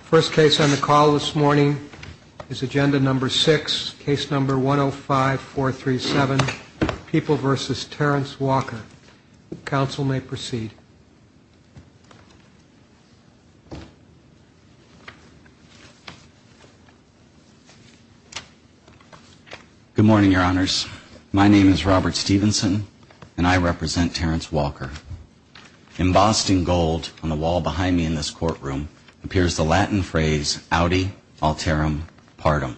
First case on the call this morning is agenda number six, case number 105-437, People v. Terrence Walker. Counsel may proceed. Good morning, Your Honors. My name is Robert Stevenson, and I represent Terrence Walker. Embossed in gold on the wall behind me in this courtroom appears the Latin phrase, audi alterum partum.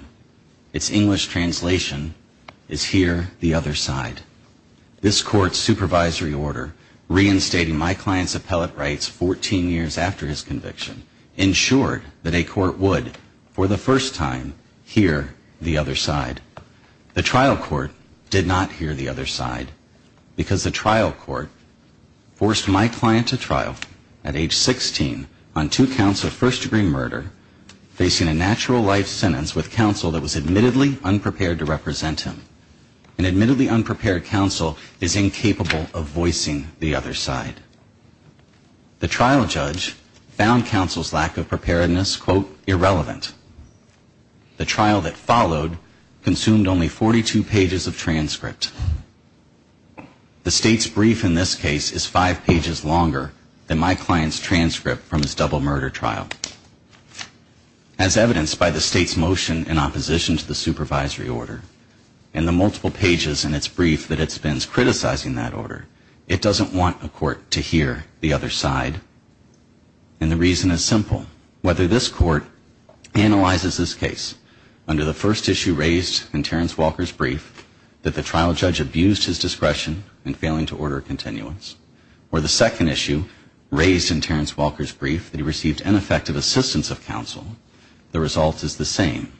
Its English translation is hear the other side. This court's supervisory order, reinstating my client's appellate rights 14 years after his conviction, ensured that a court would, for the first time, hear the other side. The trial court did not hear the other side, because the trial court forced my client to trial at age 16 on two counts of first-degree murder, facing a natural life sentence with counsel that was admittedly unprepared to represent him. An admittedly unprepared counsel is incapable of voicing the other side. The trial judge found counsel's lack of preparedness, quote, irrelevant. The trial that followed consumed only 42 pages of transcript. The state's brief in this case is five pages longer than my client's transcript from his double murder trial. As evidenced by the state's motion in opposition to the supervisory order and the multiple pages in its brief that it spends criticizing that order, it doesn't want a court to hear the other side, and the reason is simple. Whether this court analyzes this case under the first issue raised in Terrence Walker's brief that the trial judge abused his discretion in failing to order a continuance, or the second issue raised in Terrence Walker's brief that he received ineffective assistance of counsel, the result is the same.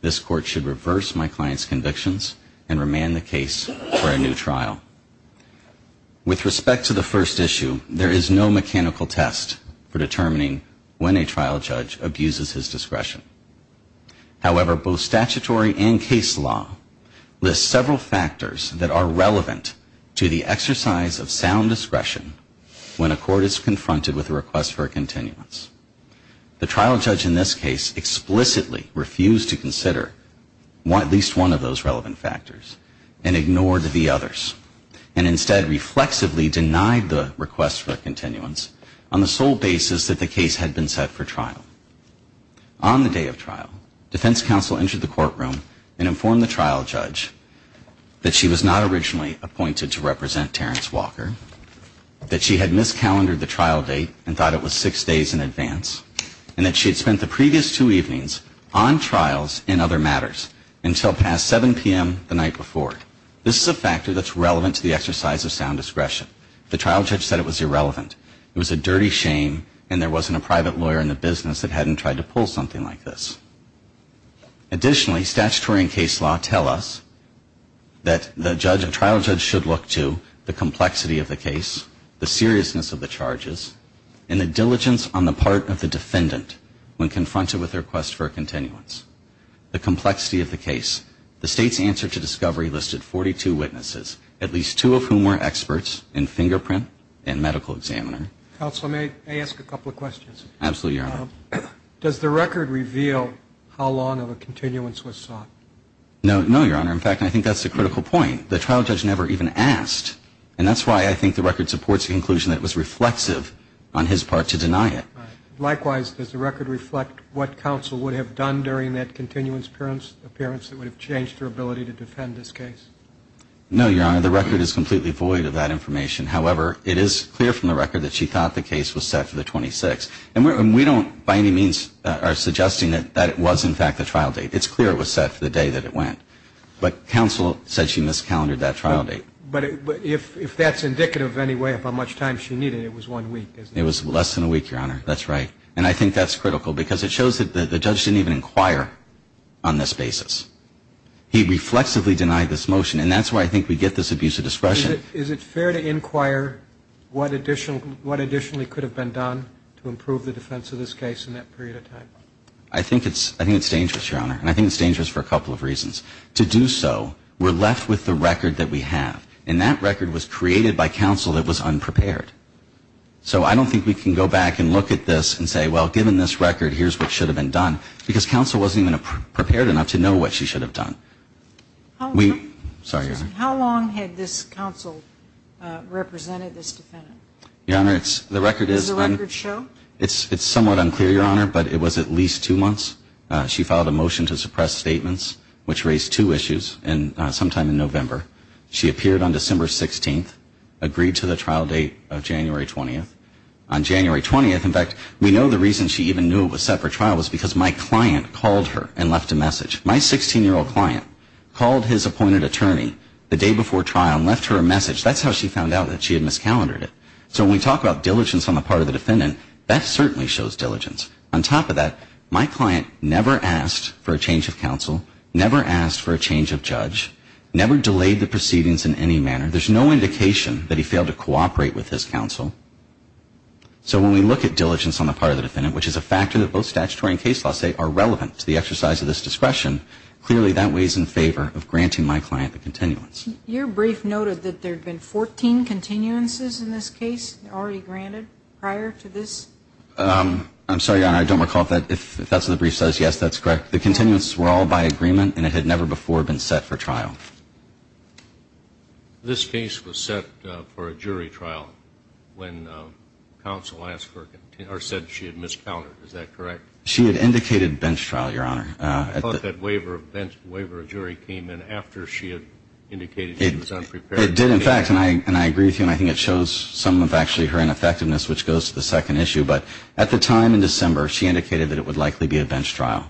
This court should reverse my client's convictions and remand the case for a new trial. With respect to the first issue, there is no mechanical test for determining when a trial judge abuses his discretion. However, both statutory and case law list several factors that are relevant to the exercise of sound discretion when a court is confronted with a request for a continuance. The trial judge in this case explicitly refused to consider at least one of those relevant factors and ignored the others. And instead reflexively denied the request for a continuance on the sole basis that the case had been set for trial. On the day of trial, defense counsel entered the courtroom and informed the trial judge that she was not originally appointed to represent Terrence Walker, that she had miscalendered the trial date and thought it was six days in advance, and that she had spent the previous two evenings on trials and other matters until past 7 p.m. the night before. This is a factor that's relevant to the exercise of sound discretion. The trial judge said it was irrelevant. It was a dirty shame and there wasn't a private lawyer in the business that hadn't tried to pull something like this. Additionally, statutory and case law tell us that the trial judge should look to the complexity of the case, the seriousness of the charges, and the diligence on the part of the defendant when confronted with a request for a continuance, the complexity of the case. The State's answer to discovery listed 42 witnesses, at least two of whom were experts in fingerprint and medical examiner. Counsel, may I ask a couple of questions? Absolutely, Your Honor. Does the record reveal how long of a continuance was sought? No, Your Honor. In fact, I think that's the critical point. The trial judge never even asked, and that's why I think the record supports the conclusion that it was reflexive on his part to deny it. Likewise, does the record reflect what counsel would have done during that continuance appearance that would have changed her ability to defend this case? No, Your Honor. The record is completely void of that information. However, it is clear from the record that she thought the case was set for the 26th. And we don't, by any means, are suggesting that it was, in fact, the trial date. It's clear it was set for the day that it went. But counsel said she miscalendored that trial date. But if that's indicative of any way of how much time she needed, it was one week, isn't it? It was less than a week, Your Honor. That's right. And I think that's critical because it shows that the judge didn't even inquire on this basis. He reflexively denied this motion, and that's why I think we get this abuse of discretion. Is it fair to inquire what additionally could have been done to improve the defense of this case in that period of time? I think it's dangerous, Your Honor, and I think it's dangerous for a couple of reasons. To do so, we're left with the record that we have. And that record was created by counsel that was unprepared. So I don't think we can go back and look at this and say, well, given this record, here's what should have been done, because counsel wasn't even prepared enough to know what she should have done. How long had this counsel represented this defendant? Your Honor, the record is unclear. Does the record show? It's somewhat unclear, Your Honor, but it was at least two months. She filed a motion to suppress statements, which raised two issues sometime in November. She appeared on December 16th, agreed to the trial date of January 20th. On January 20th, in fact, we know the reason she even knew it was set for trial was because my client called her and left a message. My 16-year-old client called his appointed attorney the day before trial and left her a message. That's how she found out that she had miscalendered it. So when we talk about diligence on the part of the defendant, that certainly shows diligence. On top of that, my client never asked for a change of counsel, never asked for a change of judge, never delayed the proceedings in any manner. There's no indication that he failed to cooperate with his counsel. So when we look at diligence on the part of the defendant, which is a factor that both statutory and case law say are relevant to the exercise of this discretion, clearly that weighs in favor of granting my client the continuance. Your brief noted that there had been 14 continuances in this case already granted prior to this? I'm sorry, Your Honor, I don't recall if that's what the brief says. Yes, that's correct. The continuances were all by agreement, and it had never before been set for trial. This case was set for a jury trial when counsel asked for or said she had miscalculated. Is that correct? She had indicated bench trial, Your Honor. I thought that waiver of jury came in after she had indicated she was unprepared. It did, in fact, and I agree with you, and I think it shows some of actually her ineffectiveness, which goes to the second issue. But at the time in December, she indicated that it would likely be a bench trial.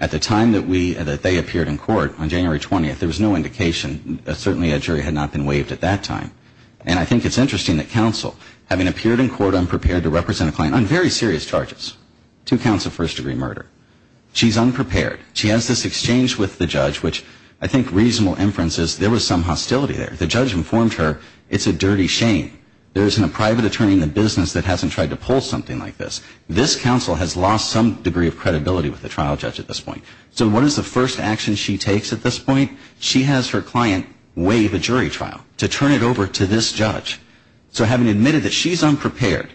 At the time that they appeared in court on January 20th, there was no indication. Certainly a jury had not been waived at that time. And I think it's interesting that counsel, having appeared in court unprepared to represent a client on very serious charges, two counts of first-degree murder, she's unprepared. She has this exchange with the judge, which I think reasonable inference is there was some hostility there. The judge informed her it's a dirty shame. There isn't a private attorney in the business that hasn't tried to pull something like this. This counsel has lost some degree of credibility with the trial judge at this point. So what is the first action she takes at this point? She has her client waive a jury trial to turn it over to this judge. So having admitted that she's unprepared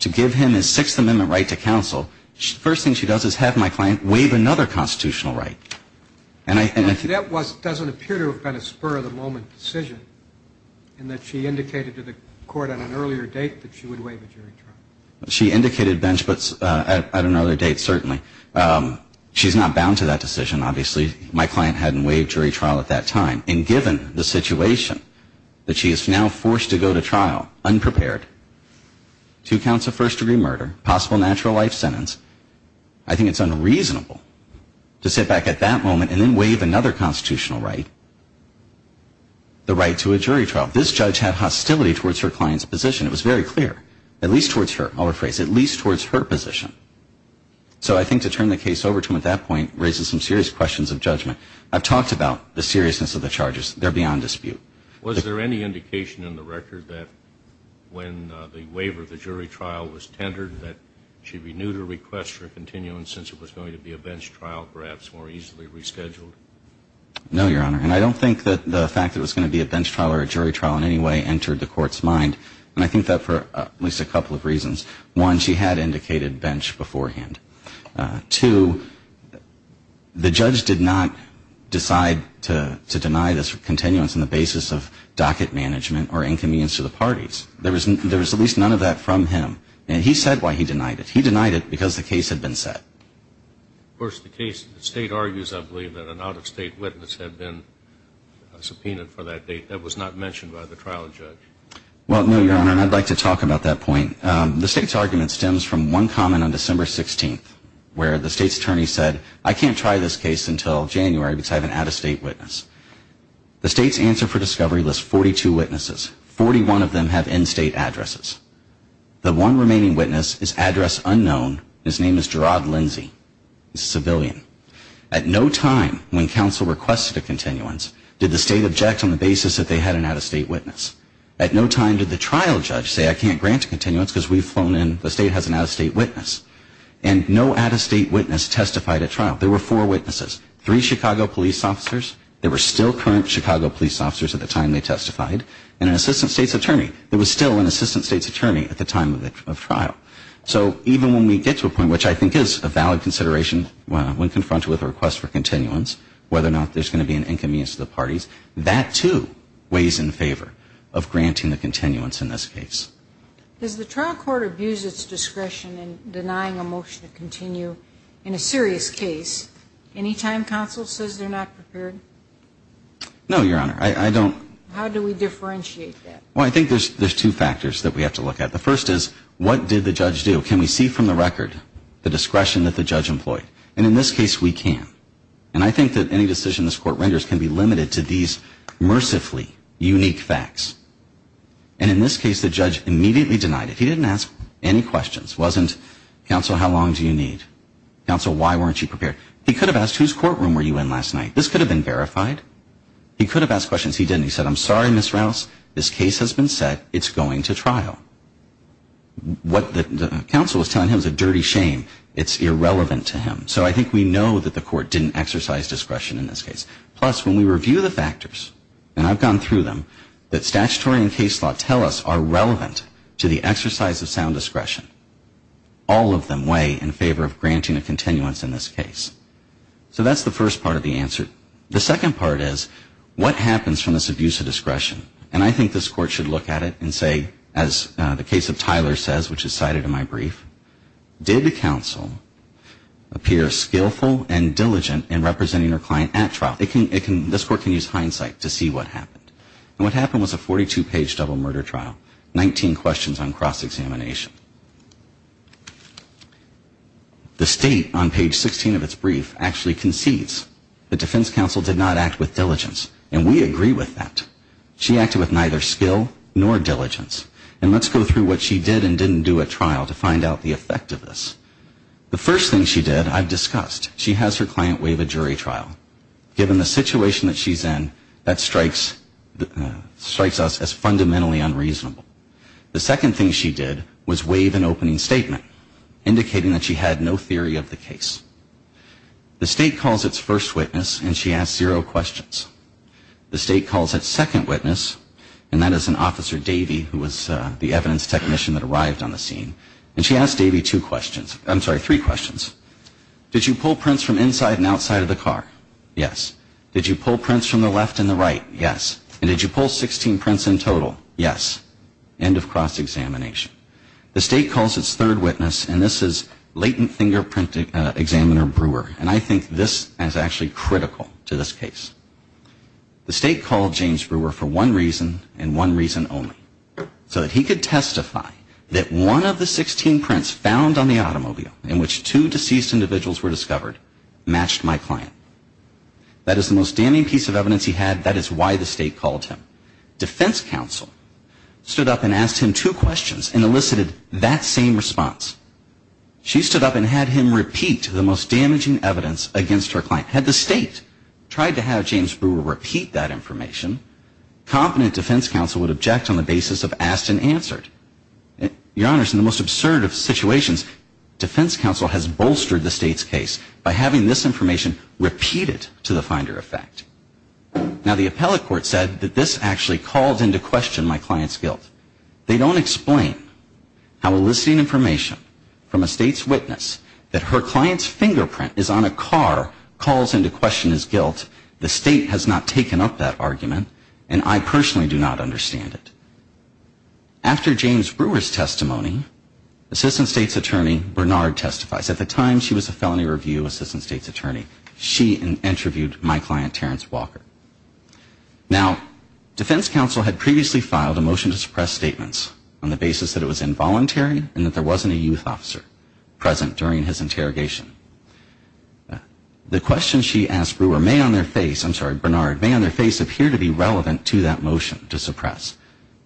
to give him his Sixth Amendment right to counsel, the first thing she does is have my client waive another constitutional right. And I think that was doesn't appear to have been a spur-of-the-moment decision, in that she indicated to the court on an earlier date that she would waive a jury trial. She indicated bench, but at another date certainly. She's not bound to that decision, obviously. My client hadn't waived jury trial at that time. And given the situation that she is now forced to go to trial unprepared, two counts of first-degree murder, possible natural life sentence, I think it's unreasonable to sit back at that moment and then waive another constitutional right, the right to a jury trial. This judge had hostility towards her client's position. It was very clear, at least towards her, I'll rephrase, at least towards her position. So I think to turn the case over to him at that point raises some serious questions of judgment. I've talked about the seriousness of the charges. They're beyond dispute. Was there any indication in the record that when the waiver of the jury trial was tendered that she renewed her request for a continuance since it was going to be a bench trial, perhaps more easily rescheduled? No, Your Honor. And I don't think that the fact that it was going to be a bench trial or a jury trial in any way entered the court's mind, and I think that for at least a couple of reasons. One, she had indicated bench beforehand. Two, the judge did not decide to deny this continuance on the basis of docket management or inconvenience to the parties. There was at least none of that from him. And he said why he denied it. He denied it because the case had been set. Of course, the case, the State argues, I believe, that an out-of-State witness had been subpoenaed for that date. That was not mentioned by the trial judge. Well, no, Your Honor, and I'd like to talk about that point. The State's argument stems from one comment on December 16th where the State's attorney said, I can't try this case until January because I have an out-of-State witness. The State's answer for discovery lists 42 witnesses. Forty-one of them have in-State addresses. The one remaining witness is address unknown. His name is Gerard Lindsey. He's a civilian. At no time when counsel requested a continuance did the State object on the basis that they had an out-of-State witness. At no time did the trial judge say I can't grant a continuance because we've flown in, the State has an out-of-State witness. And no out-of-State witness testified at trial. There were four witnesses. Three Chicago police officers. There were still current Chicago police officers at the time they testified. And an assistant State's attorney. There was still an assistant State's attorney at the time of trial. So even when we get to a point, which I think is a valid consideration when confronted with a request for continuance, whether or not there's going to be an inconvenience to the parties, that, too, weighs in favor of granting the continuance in this case. Does the trial court abuse its discretion in denying a motion to continue in a serious case any time counsel says they're not prepared? No, Your Honor. I don't. How do we differentiate that? Well, I think there's two factors that we have to look at. The first is, what did the judge do? Can we see from the record the discretion that the judge employed? And in this case, we can. And I think that any decision this Court renders can be limited to these mercifully unique facts. And in this case, the judge immediately denied it. He didn't ask any questions. It wasn't, counsel, how long do you need? Counsel, why weren't you prepared? He could have asked, whose courtroom were you in last night? This could have been verified. He could have asked questions. He didn't. He said, I'm sorry, Ms. Rouse. This case has been set. It's going to trial. What the counsel was telling him is a dirty shame. It's irrelevant to him. So I think we know that the Court didn't exercise discretion in this case. Plus, when we review the factors, and I've gone through them, that statutory and case law tell us are relevant to the exercise of sound discretion, all of them weigh in favor of granting a continuance in this case. So that's the first part of the answer. The second part is, what happens from this abuse of discretion? And I think this Court should look at it and say, as the case of Tyler says, which is cited in my brief, did the counsel appear skillful and diligent in representing her client at trial? This Court can use hindsight to see what happened. And what happened was a 42-page double murder trial, 19 questions on cross-examination. The State, on page 16 of its brief, actually concedes the defense counsel did not act with diligence. And we agree with that. She acted with neither skill nor diligence. And let's go through what she did and didn't do at trial to find out the effect of this. The first thing she did, I've discussed. She has her client waive a jury trial. Given the situation that she's in, that strikes us as fundamentally unreasonable. The second thing she did was waive an opening statement, indicating that she had no theory of the case. The State calls its first witness, and she asks zero questions. The State calls its second witness, and that is an Officer Davey, who was the evidence technician that arrived on the scene. And she asked Davey two questions. I'm sorry, three questions. Did you pull prints from inside and outside of the car? Yes. Did you pull prints from the left and the right? Yes. And did you pull 16 prints in total? Yes. End of cross-examination. The State calls its third witness, and this is latent fingerprint examiner Brewer. And I think this is actually critical to this case. The State called James Brewer for one reason and one reason only, so that he could testify that one of the 16 prints found on the automobile in which two deceased individuals were discovered matched my client. That is the most damning piece of evidence he had. That is why the State called him. Defense counsel stood up and asked him two questions and elicited that same response. She stood up and had him repeat the most damaging evidence against her client. Had the State tried to have James Brewer repeat that information, competent defense counsel would object on the basis of asked and answered. Your Honors, in the most absurd of situations, defense counsel has bolstered the State's case by having this information repeated to the finder effect. Now, the appellate court said that this actually calls into question my client's guilt. They don't explain how eliciting information from a State's witness that her client's fingerprint is on a car calls into question his guilt. The State has not taken up that argument, and I personally do not understand it. After James Brewer's testimony, Assistant State's Attorney Bernard testifies. At the time, she was a felony review Assistant State's Attorney. She interviewed my client, Terrence Walker. Now, defense counsel had previously filed a motion to suppress statements on the basis that it was involuntary and that there wasn't a youth officer present during his interrogation. The questions she asked Brewer may on their face, I'm sorry, Bernard, may on their face appear to be relevant to that motion to suppress.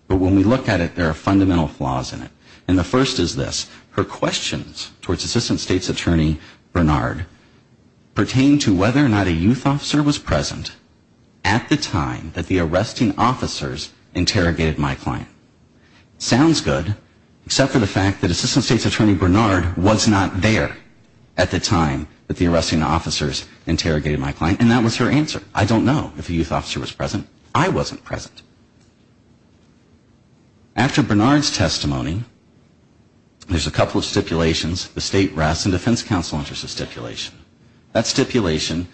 But when we look at it, there are fundamental flaws in it. And the first is this. Her questions towards Assistant State's Attorney Bernard pertain to whether or not a youth officer was present at the time that the arresting officers interrogated my client. Sounds good, except for the fact that Assistant State's Attorney Bernard was not there at the time that the arresting officers interrogated my client, and that was her answer. I don't know if a youth officer was present. I wasn't present. After Bernard's testimony, there's a couple of stipulations. The state rests in defense counsel's interest of stipulation. That stipulation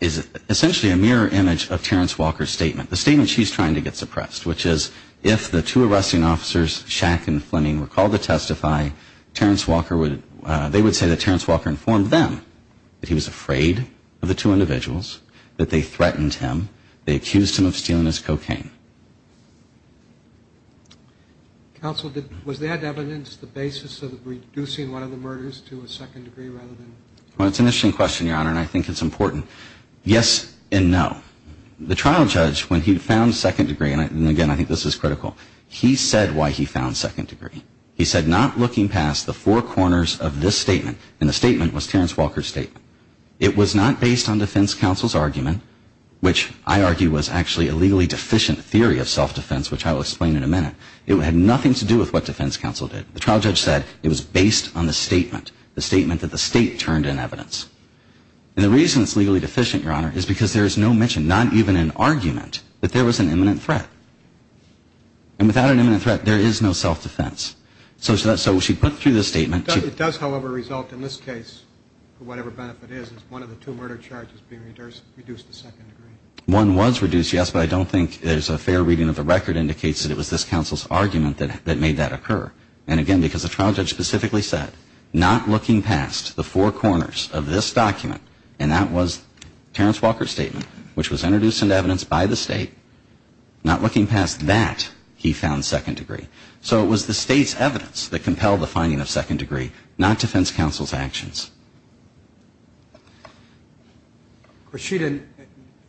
is essentially a mirror image of Terrence Walker's statement. The statement she's trying to get suppressed, which is if the two arresting officers, Shack and Fleming, were called to testify, they would say that Terrence Walker informed them that he was afraid of the two individuals, that they threatened him, they accused him of stealing his cocaine. Counsel, was that evidence the basis of reducing one of the murders to a second degree? Well, it's an interesting question, Your Honor, and I think it's important. Yes and no. The trial judge, when he found second degree, and again, I think this is critical, he said why he found second degree. He said not looking past the four corners of this statement, and the statement was Terrence Walker's statement. It was not based on defense counsel's argument, which I argue was actually a legally deficient theory of self-defense, which I will explain in a minute. It had nothing to do with what defense counsel did. The trial judge said it was based on the statement, the statement that the state turned in evidence. And the reason it's legally deficient, Your Honor, is because there is no mention, not even in argument, that there was an imminent threat. And without an imminent threat, there is no self-defense. So she put through this statement. It does, however, result in this case, for whatever benefit it is, is one of the two murder charges being reduced to second degree. One was reduced, yes, but I don't think there's a fair reading of the record indicates that it was this counsel's argument that made that occur. And again, because the trial judge specifically said not looking past the four corners of this document, and that was Terrence Walker's statement, which was introduced into evidence by the state, not looking past that, he found second degree. So it was the state's evidence that compelled the finding of second degree, not defense counsel's actions. Of course, she didn't,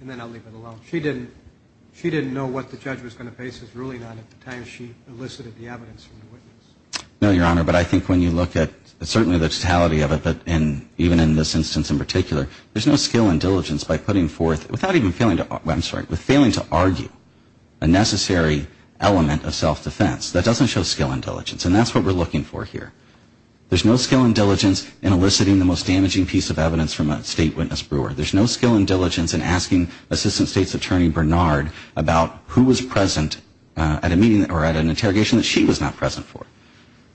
and then I'll leave it alone, she didn't know what the judge was going to base his ruling on at the time she elicited the evidence from the witness. No, Your Honor, but I think when you look at certainly the totality of it, and even in this instance in particular, there's no skill and diligence by putting forth, without even failing to, I'm sorry, with failing to argue a necessary element of self-defense. That doesn't show skill and diligence, and that's what we're looking for here. There's no skill and diligence in eliciting the most damaging piece of evidence from a state witness brewer. There's no skill and diligence in asking Assistant State's Attorney Bernard about who was present at a meeting or at an interrogation that she was not present for.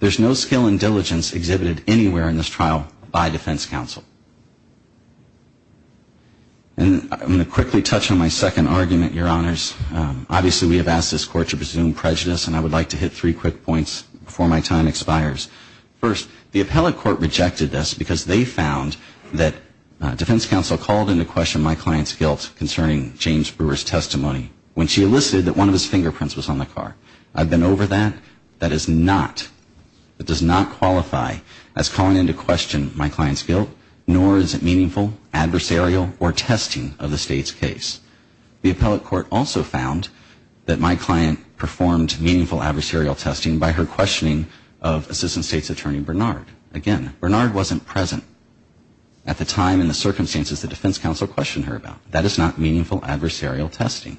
There's no skill and diligence exhibited anywhere in this trial by defense counsel. And I'm going to quickly touch on my second argument, Your Honors. Obviously, we have asked this Court to presume prejudice, and I would like to hit three quick points before my time expires. First, the appellate court rejected this because they found that defense counsel called into question my client's guilt concerning James Brewer's testimony when she elicited that one of his fingerprints was on the car. I've been over that. That is not, that does not qualify as calling into question my client's guilt. Nor is it meaningful, adversarial, or testing of the state's case. The appellate court also found that my client performed meaningful adversarial testing by her questioning of Assistant State's Attorney Bernard. Again, Bernard wasn't present at the time and the circumstances the defense counsel questioned her about. That is not meaningful adversarial testing.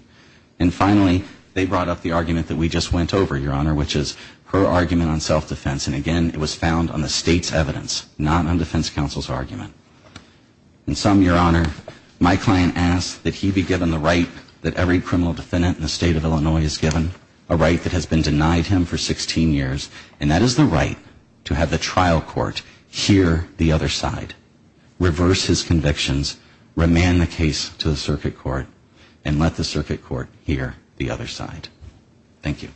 And finally, they brought up the argument that we just went over, Your Honor, which is her argument on self-defense. And again, it was found on the state's evidence, not on defense counsel's argument. In sum, Your Honor, my client asked that he be given the right that every criminal defendant in the state of Illinois is given, a right that has been denied him for 16 years, and that is the right to have the trial court hear the other side, reverse his convictions, remand the case to the circuit court, and let the circuit court hear the other side. Thank you.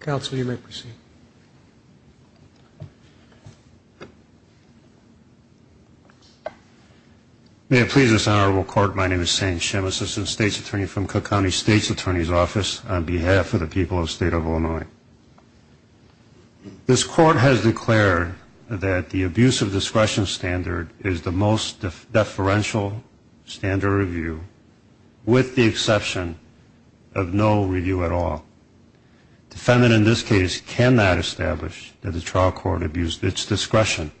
Counsel, you may proceed. May it please this honorable court, my name is Sam Shem, Assistant State's Attorney from Cook County State's Attorney's Office, on behalf of the people of the state of Illinois. This court has declared that the abuse of discretion standard is the most deferential standard of review with the exception of no review at all. Defendant in this case cannot establish that the trial court abused its discretion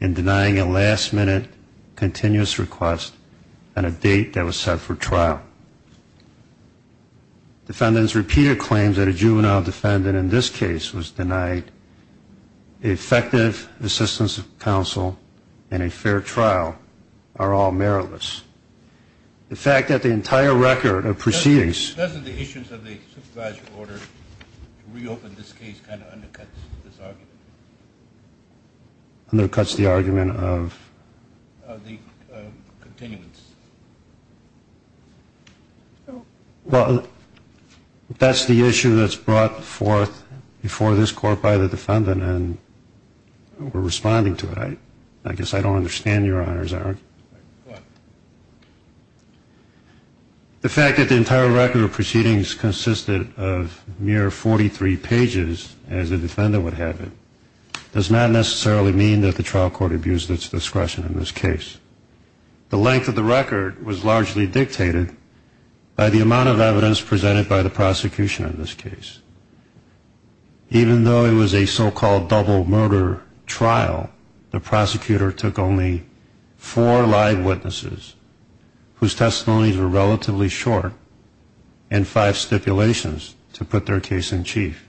in denying a last-minute continuous request on a date that was set for trial. Defendants' repeated claims that a juvenile defendant in this case was denied effective assistance of counsel in a fair trial are all meritless. The fact that the entire record of proceedings- Doesn't the issuance of the supervisory order to reopen this case kind of undercuts this argument? Undercuts the argument of- Of the continuance. Well, that's the issue that's brought forth before this court by the defendant, and we're responding to it. I guess I don't understand your honors. The fact that the entire record of proceedings consisted of mere 43 pages, as the defendant would have it, does not necessarily mean that the trial court abused its discretion in this case. The length of the record was largely dictated by the amount of evidence presented by the prosecution in this case. Even though it was a so-called double-murder trial, the prosecutor took only four live witnesses, whose testimonies were relatively short, and five stipulations to put their case in chief.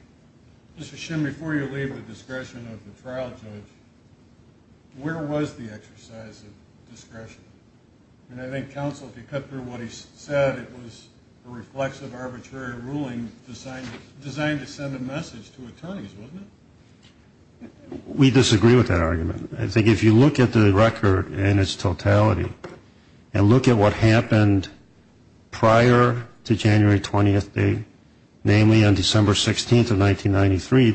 Mr. Shim, before you leave the discretion of the trial judge, where was the exercise of discretion? And I think counsel, if you cut through what he said, it was a reflexive, arbitrary ruling designed to send a message to attorneys, wasn't it? We disagree with that argument. I think if you look at the record in its totality, and look at what happened prior to January 20th day, namely on December 16th of 1993,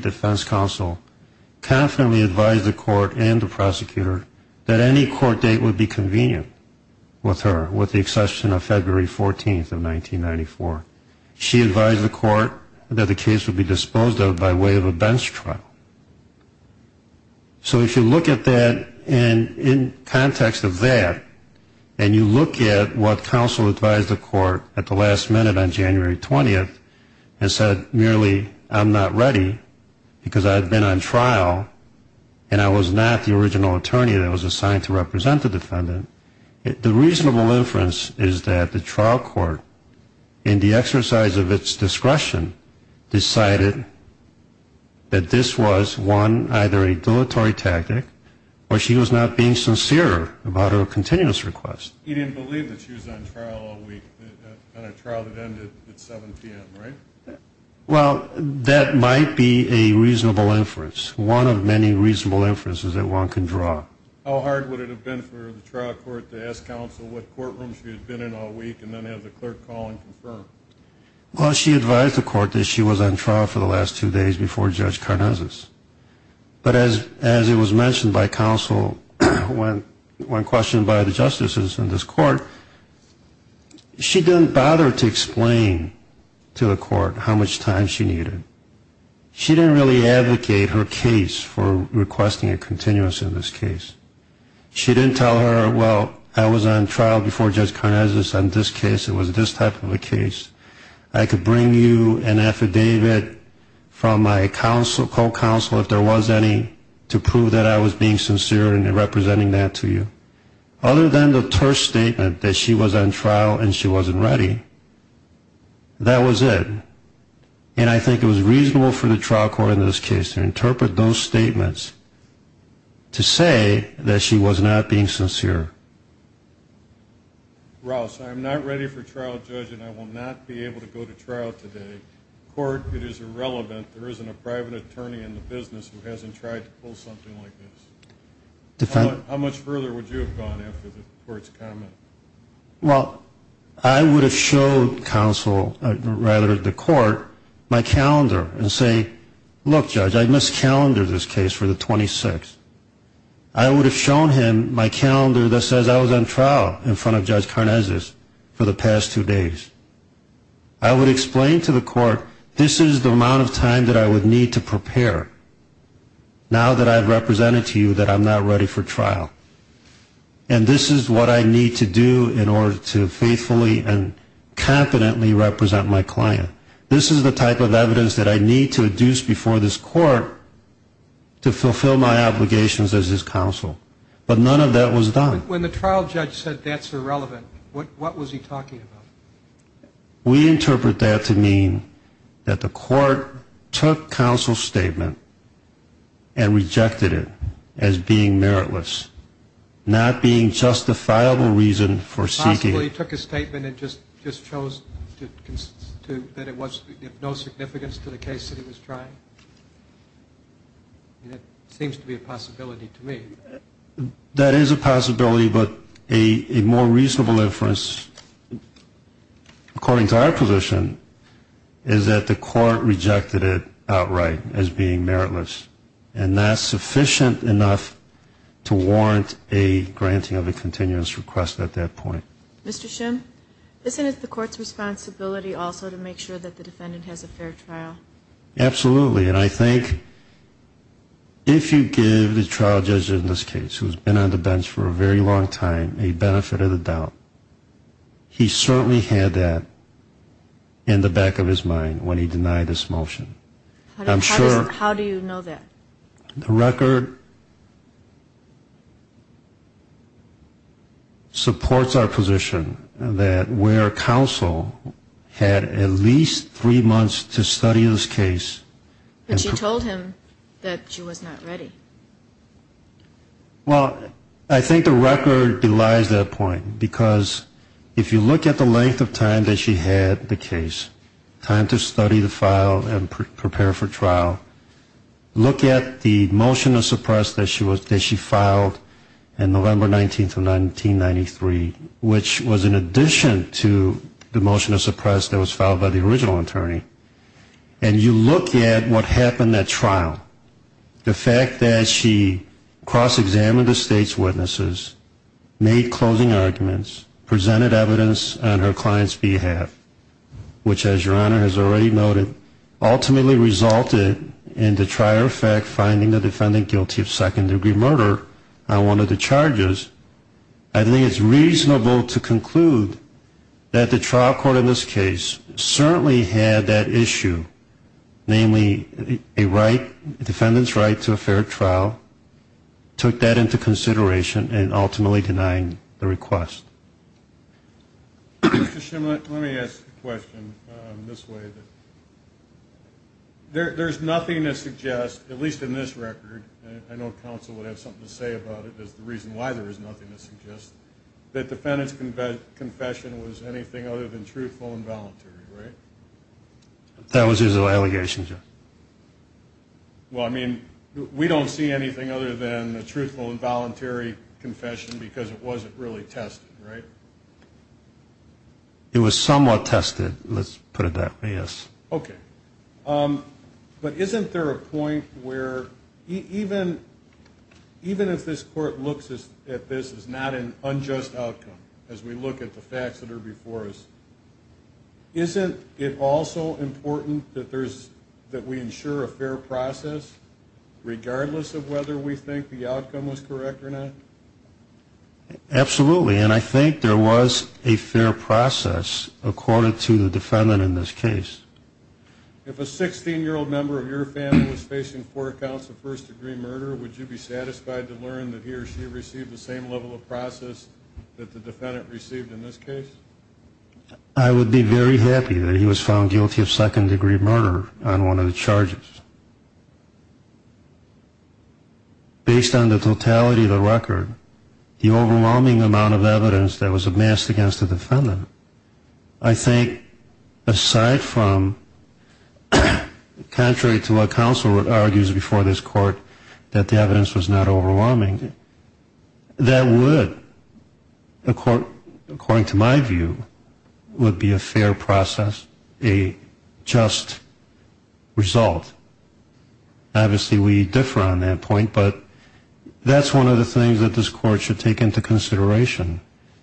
confidently advised the court and the prosecutor that any court date would be convenient with her, with the exception of February 14th of 1994. She advised the court that the case would be disposed of by way of a bench trial. So if you look at that in context of that, and you look at what counsel advised the court at the last minute on January 20th, and said merely, I'm not ready, because I've been on trial, and I was not the original attorney that was assigned to represent the defendant, the reasonable inference is that the trial court, in the exercise of its discretion, decided that this was, one, either a dilatory tactic, or she was not being sincere about her continuous request. He didn't believe that she was on trial all week, on a trial that ended at 7 p.m., right? Well, that might be a reasonable inference. One of many reasonable inferences that one can draw. How hard would it have been for the trial court to ask counsel what courtroom she had been in all week and then have the clerk call and confirm? Well, she advised the court that she was on trial for the last two days before Judge Karnazes. But as it was mentioned by counsel when questioned by the justices in this court, she didn't bother to explain to the court how much time she needed. She didn't really advocate her case for requesting a continuous in this case. She didn't tell her, well, I was on trial before Judge Karnazes on this case, it was this type of a case. I could bring you an affidavit from my counsel, co-counsel, if there was any, to prove that I was being sincere in representing that to you. Other than the terse statement that she was on trial and she wasn't ready, that was it. And I think it was reasonable for the trial court in this case to interpret those statements to say that she was not being sincere. Ross, I am not ready for trial, Judge, and I will not be able to go to trial today. Court, it is irrelevant. There isn't a private attorney in the business who hasn't tried to pull something like this. How much further would you have gone after the court's comment? Well, I would have showed counsel, or rather the court, my calendar and say, look, Judge, I miscalendered this case for the 26th. I would have shown him my calendar that says I was on trial in front of Judge Karnazes for the past two days. I would explain to the court, this is the amount of time that I would need to prepare, now that I've represented to you that I'm not ready for trial. And this is what I need to do in order to faithfully and competently represent my client. This is the type of evidence that I need to induce before this court to fulfill my obligations as his counsel, but none of that was done. When the trial judge said that's irrelevant, what was he talking about? We interpret that to mean that the court took counsel's statement and rejected it as being meritless, not being justifiable reason for seeking. Possibly he took his statement and just chose that it was of no significance to the case that he was trying? That seems to be a possibility to me. That is a possibility, but a more reasonable inference, according to our position, is that the court rejected it outright as being meritless. And that's sufficient enough to warrant a granting of a continuous request at that point. Mr. Shim, isn't it the court's responsibility also to make sure that the defendant has a fair trial? Absolutely. And I think if you give the trial judge in this case, who's been on the bench for a very long time, a benefit of the doubt, he certainly had that in the back of his mind when he denied this motion. I'm sure. How do you know that? The record supports our position that where counsel had at least three months to study this case. But she told him that she was not ready. Well, I think the record belies that point, because if you look at the length of time that she had the case, time to study the file and prepare for trial, look at the motion of suppress that she filed in November 19th of 1993, which was in addition to the motion of suppress that was filed by the original attorney, and you look at what happened at trial, the fact that she cross-examined the state's witnesses, made closing arguments, presented evidence on her client's behalf, which, as Your Honor has already noted, ultimately resulted in the trial finding the defendant guilty of second-degree murder on one of the charges. I think it's reasonable to conclude that the trial court in this case certainly had that issue, namely a defendant's right to a fair trial, took that into consideration in ultimately denying the request. Mr. Shimmel, let me ask a question in this way. There's nothing to suggest, at least in this record, and I know counsel would have something to say about it as the reason why there is nothing to suggest, that the defendant's confession was anything other than truthful and voluntary, right? That was his allegation, Judge. Well, I mean, we don't see anything other than a truthful and voluntary confession because it wasn't really tested, right? It was somewhat tested, let's put it that way, yes. Okay. But isn't there a point where even if this court looks at this as not an unjust outcome, as we look at the facts that are before us, isn't it also important that we ensure a fair process regardless of whether we think the outcome was correct or not? Absolutely, and I think there was a fair process according to the defendant in this case. If a 16-year-old member of your family was facing four counts of first-degree murder, would you be satisfied to learn that he or she received the same level of process that the defendant received in this case? I would be very happy that he was found guilty of second-degree murder on one of the charges. Based on the totality of the record, the overwhelming amount of evidence that was amassed against the defendant, I think aside from contrary to what counsel argues before this court, that the evidence was not overwhelming, that would, according to my view, would be a fair process, a just result. Obviously we differ on that point, but that's one of the things that this court should take into consideration.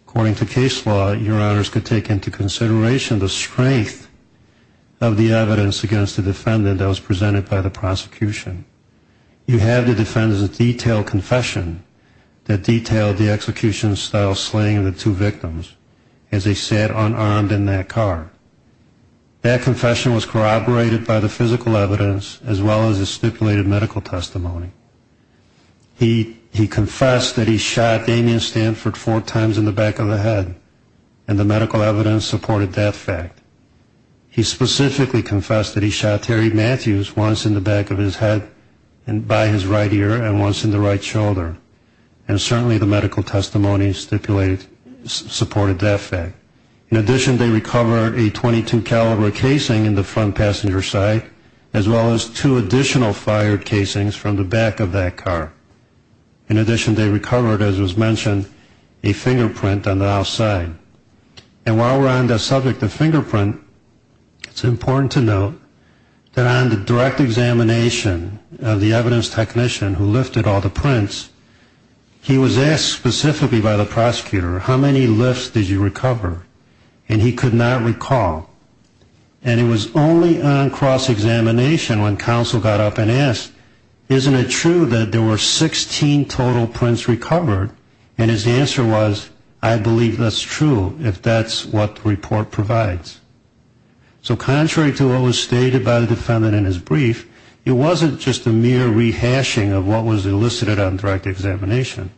According to case law, your honors could take into consideration the strength of the evidence against the defendant that was presented by the prosecution. You have the defendant's detailed confession that detailed the execution-style slaying of the two victims as they sat unarmed in that car. That confession was corroborated by the physical evidence as well as the stipulated medical testimony. He confessed that he shot Damien Stanford four times in the back of the head, and the medical evidence supported that fact. He specifically confessed that he shot Terry Matthews once in the back of his head by his right ear and once in the right shoulder, and certainly the medical testimony supported that fact. In addition, they recovered a .22 caliber casing in the front passenger side as well as two additional fired casings from the back of that car. In addition, they recovered, as was mentioned, a fingerprint on the outside. And while we're on the subject of fingerprint, it's important to note that on the direct examination of the evidence technician who lifted all the prints, he was asked specifically by the prosecutor, how many lifts did you recover, and he could not recall. And it was only on cross-examination when counsel got up and asked, isn't it true that there were 16 total prints recovered? And his answer was, I believe that's true, if that's what the report provides. So contrary to what was stated by the defendant in his brief, it wasn't just a mere rehashing of what was elicited on direct examination.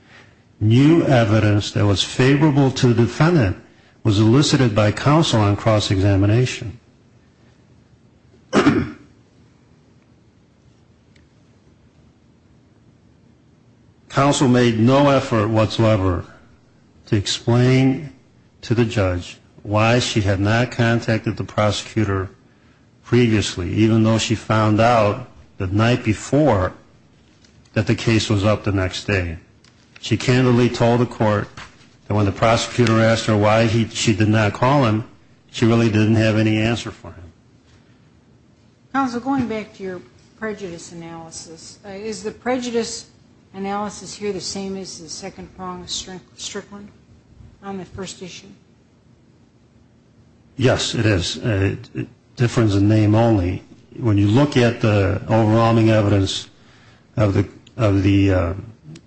New evidence that was favorable to the defendant was elicited by counsel on cross-examination. Counsel made no effort whatsoever to explain to the judge why she had not contacted the prosecutor previously, even though she found out the night before that the case was up the next day. She candidly told the court that when the prosecutor asked her why she did not call him, she really didn't have any answer for him. Counsel, going back to your prejudice analysis, is the prejudice analysis here the same as the second prong of Strickland on the first issue? Yes, it is. It differs in name only. When you look at the overwhelming evidence of the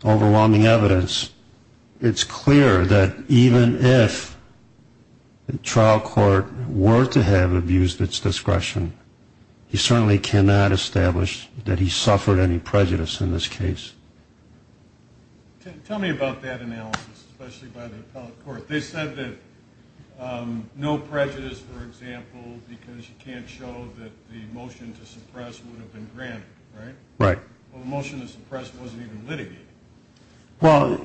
overwhelming evidence, it's clear that even if the trial court were to have abused its discretion, he certainly cannot establish that he suffered any prejudice in this case. Tell me about that analysis, especially by the appellate court. They said that no prejudice, for example, because you can't show that the motion to suppress would have been granted, right? Well, the motion to suppress wasn't even litigated. Well,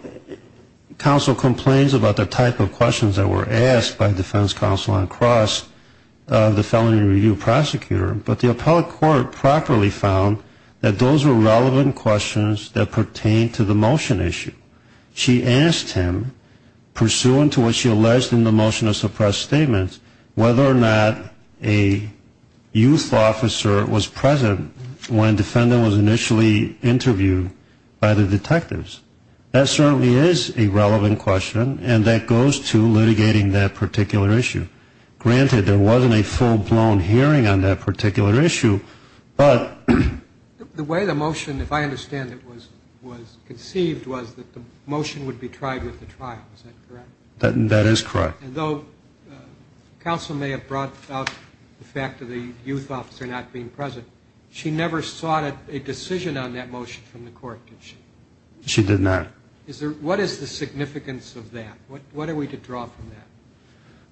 counsel complains about the type of questions that were asked by defense counsel on cross, the felony review prosecutor, but the appellate court properly found that those were relevant questions that pertained to the motion issue. She asked him, pursuant to what she alleged in the motion to suppress statements, whether or not a youth officer was present when defendant was initially interviewed by the detectives. That certainly is a relevant question, and that goes to litigating that particular issue. Granted, there wasn't a full-blown hearing on that particular issue, but... The way the motion, if I understand it, was conceived was that the motion would be tried with the trial. Is that correct? That is correct. And though counsel may have brought up the fact of the youth officer not being present, she never sought a decision on that motion from the court, did she? She did not. What is the significance of that? What are we to draw from that?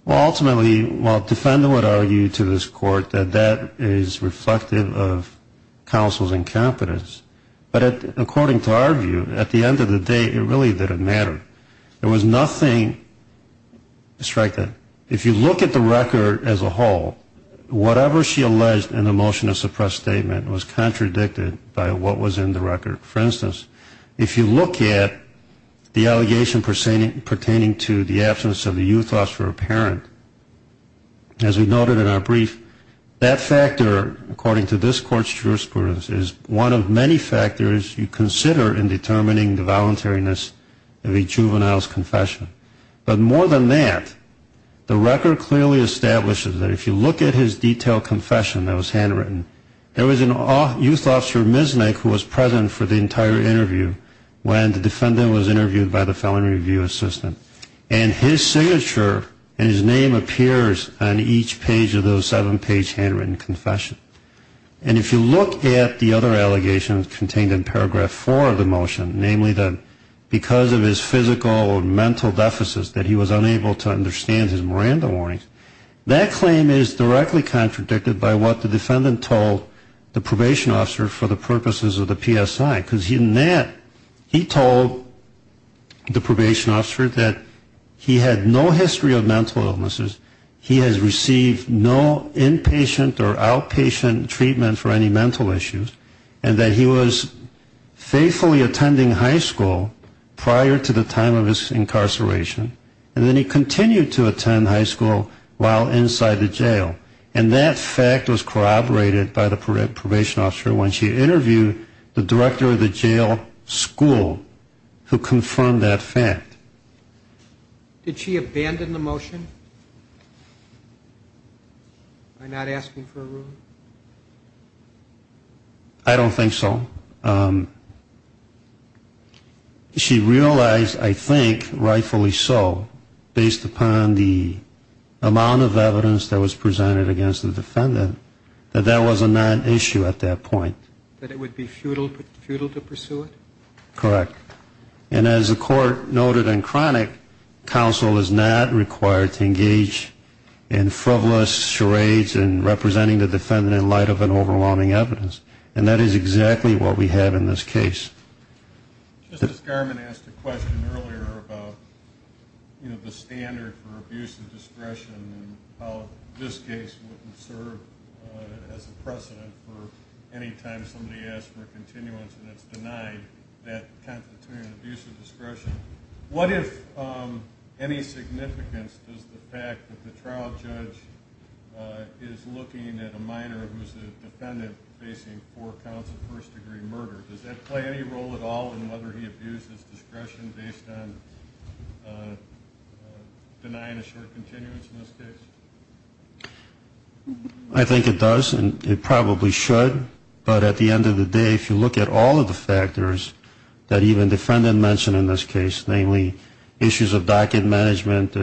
Well, ultimately, while defendant would argue to this court that that is reflective of counsel's incompetence, but according to our view, at the end of the day, it really didn't matter. There was nothing... strike that. If you look at the record as a whole, whatever she alleged in the motion to suppress statement was contradicted by what was in the record. For instance, if you look at the allegation pertaining to the absence of a youth officer or parent, as we noted in our brief, that factor, according to this court's jurisprudence, is one of many factors you consider in determining the voluntariness of a juvenile's confession. But more than that, the record clearly establishes that if you look at his detailed confession that was handwritten, there was a youth officer, Misnick, who was present for the entire interview when the defendant was interviewed by the felony review assistant. And his signature and his name appears on each page of the seven-page handwritten confession. And if you look at the other allegations contained in paragraph four of the motion, namely that because of his physical or mental deficits that he was unable to understand his Miranda warnings, that claim is directly contradicted by what the defendant told the probation officer for the purposes of the PSI, because in that, he told the probation officer that he had no history of mental illnesses, he has received no inpatient or outpatient treatment for any mental issues, and that he was faithfully attending high school prior to the time of his incarceration, and then he continued to attend high school while inside the jail. And that fact was corroborated by the probation officer when she interviewed the director of the jail school, who confirmed that fact. Did she abandon the motion by not asking for a ruling? I don't think so. She realized, I think, rightfully so, based upon the amount of evidence that was presented against the defendant, that that was a non-issue at that point. That it would be futile to pursue it? Correct. And as the court noted in chronic, counsel is not required to engage in frivolous charades in representing the defendant in light of an overwhelming evidence. And that is exactly what we have in this case. Justice Garmon asked a question earlier about the standard for abuse of discretion and how this case wouldn't serve as a precedent for any time somebody asks for a continuance and it's denied that kind of abuse of discretion. What, if any, significance does the fact that the trial judge is looking at a minor who's a defendant facing four counts of first-degree murder, does that play any role at all in whether he abuses discretion based on denying a short continuance in this case? I think it does, and it probably should. But at the end of the day, if you look at all of the factors that even the defendant mentioned in this case, namely issues of docket management,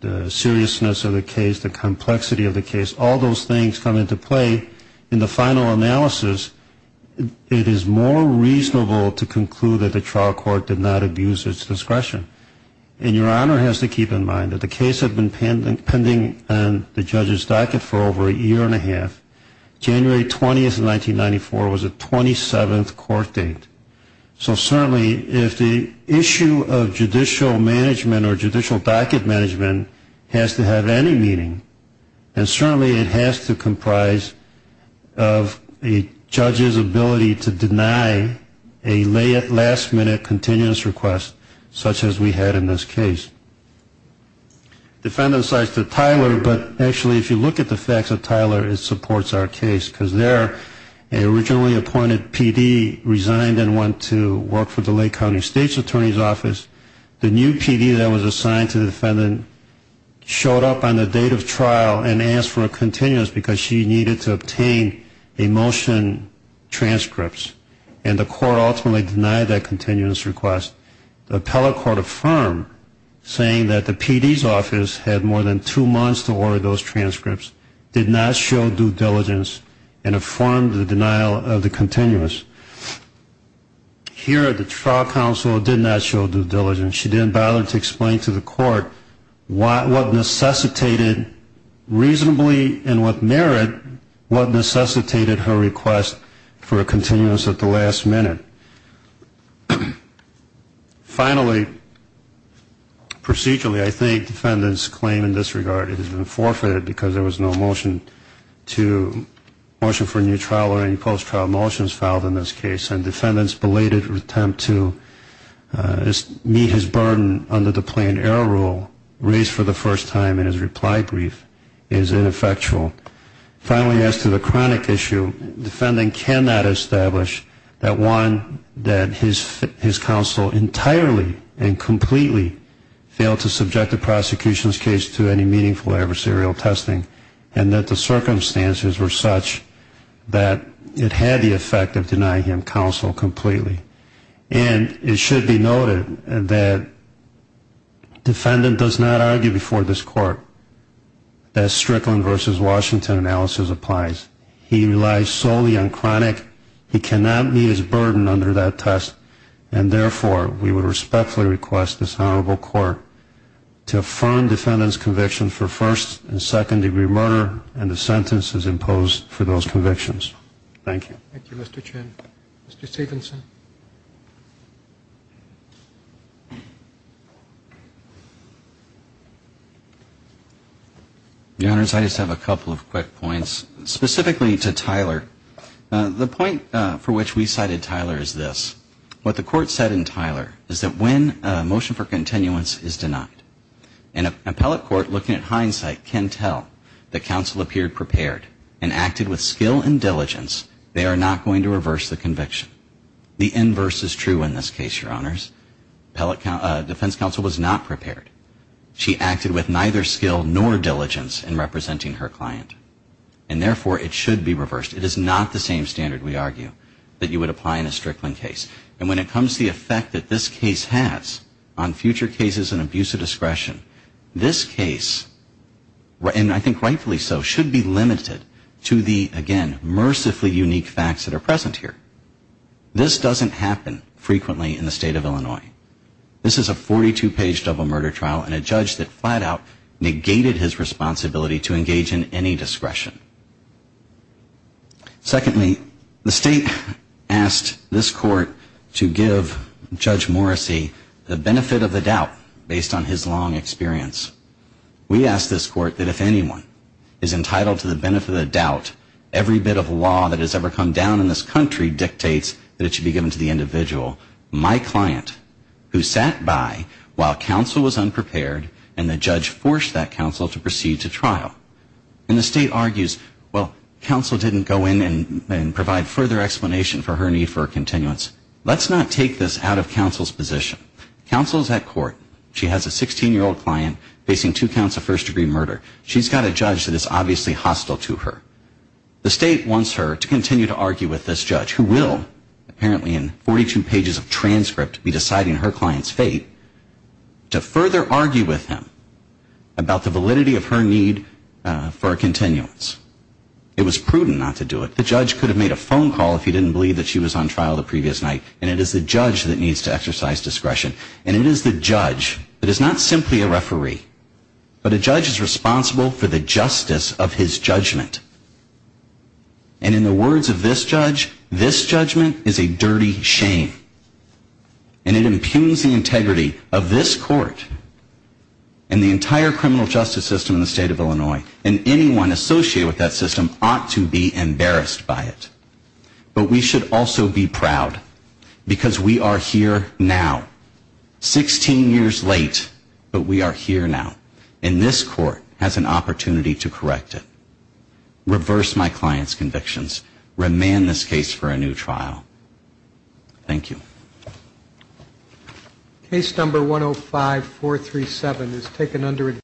the seriousness of the case, the complexity of the case, all those things come into play in the final analysis, it is more reasonable to conclude that the trial court did not abuse its discretion. And Your Honor has to keep in mind that the case had been pending on the judge's docket for over a year and a half. January 20th of 1994 was the 27th court date. So certainly if the issue of judicial management or judicial docket management has to have any meaning, then certainly it has to comprise of a judge's ability to deny a last-minute continuance request such as we had in this case. Defendant cites the Tyler, but actually if you look at the facts of Tyler, it supports our case, because their originally appointed PD resigned and went to work for the Lake County State's Attorney's Office. The new PD that was assigned to the defendant showed up on the date of trial and asked for a continuance because she needed to obtain a motion transcripts, and the court ultimately denied that continuance request. The appellate court affirmed saying that the PD's office had more than two months to order those transcripts, did not show due diligence, and affirmed the denial of the continuance. Here the trial counsel did not show due diligence. She didn't bother to explain to the court what necessitated reasonably and what merit, what necessitated her request for a continuance at the last minute. Finally, procedurally I think defendants claim in this regard it has been forfeited because there was no motion to, motion for a new trial or any post-trial motions filed in this case, and defendants belated attempt to meet his burden under the plain error rule raised for the first time in his reply brief is ineffectual. Finally, as to the chronic issue, the defendant cannot establish that one, that his counsel entirely and completely failed to subject the prosecution's case to any meaningful adversarial testing, and that the circumstances were such that it had the effect of denying him counsel completely. And it should be noted that defendant does not argue before this court that Strickland versus Washington analysis applies. He relies solely on chronic. He cannot meet his burden under that test, and therefore we would respectfully request this honorable court to affirm defendant's conviction for first and second degree murder and the sentences imposed for those convictions. Thank you. Thank you, Mr. Chen. Mr. Stephenson. Your Honors, I just have a couple of quick points. Specifically to Tyler, the point for which we cited Tyler is this. What the court said in Tyler is that when a motion for continuance is denied, an appellate court looking at hindsight can tell that counsel appeared prepared and acted with skill and diligence, they are not going to reverse the conviction. The inverse is true in this case, Your Honors. Defense counsel was not prepared. She acted with neither skill nor diligence in representing her client, and therefore it should be reversed. It is not the same standard, we argue, that you would apply in a Strickland case. And when it comes to the effect that this case has on future cases and abuse of discretion, this case, and I think rightfully so, should be limited to the, again, that are present here. This doesn't happen frequently in the state of Illinois. This is a 42-page double murder trial and a judge that flat out negated his responsibility to engage in any discretion. Secondly, the state asked this court to give Judge Morrissey the benefit of the doubt based on his long experience. We ask this court that if anyone is entitled to the benefit of the doubt, every bit of law that has ever come down in this country dictates that it should be given to the individual, my client, who sat by while counsel was unprepared and the judge forced that counsel to proceed to trial. And the state argues, well, counsel didn't go in and provide further explanation for her need for a continuance. Let's not take this out of counsel's position. Counsel is at court. She has a 16-year-old client facing two counts of first-degree murder. She's got a judge that is obviously hostile to her. The state wants her to continue to argue with this judge, who will apparently in 42 pages of transcript be deciding her client's fate, to further argue with him about the validity of her need for a continuance. It was prudent not to do it. The judge could have made a phone call if he didn't believe that she was on trial the previous night, and it is the judge that needs to exercise discretion. And it is the judge that is not simply a referee, but a judge is responsible for the justice of his judgment. And in the words of this judge, this judgment is a dirty shame. And it impugns the integrity of this court and the entire criminal justice system in the state of Illinois, and anyone associated with that system ought to be embarrassed by it. But we should also be proud, because we are here now. 16 years late, but we are here now. And this court has an opportunity to correct it. Reverse my client's convictions. Remand this case for a new trial. Thank you.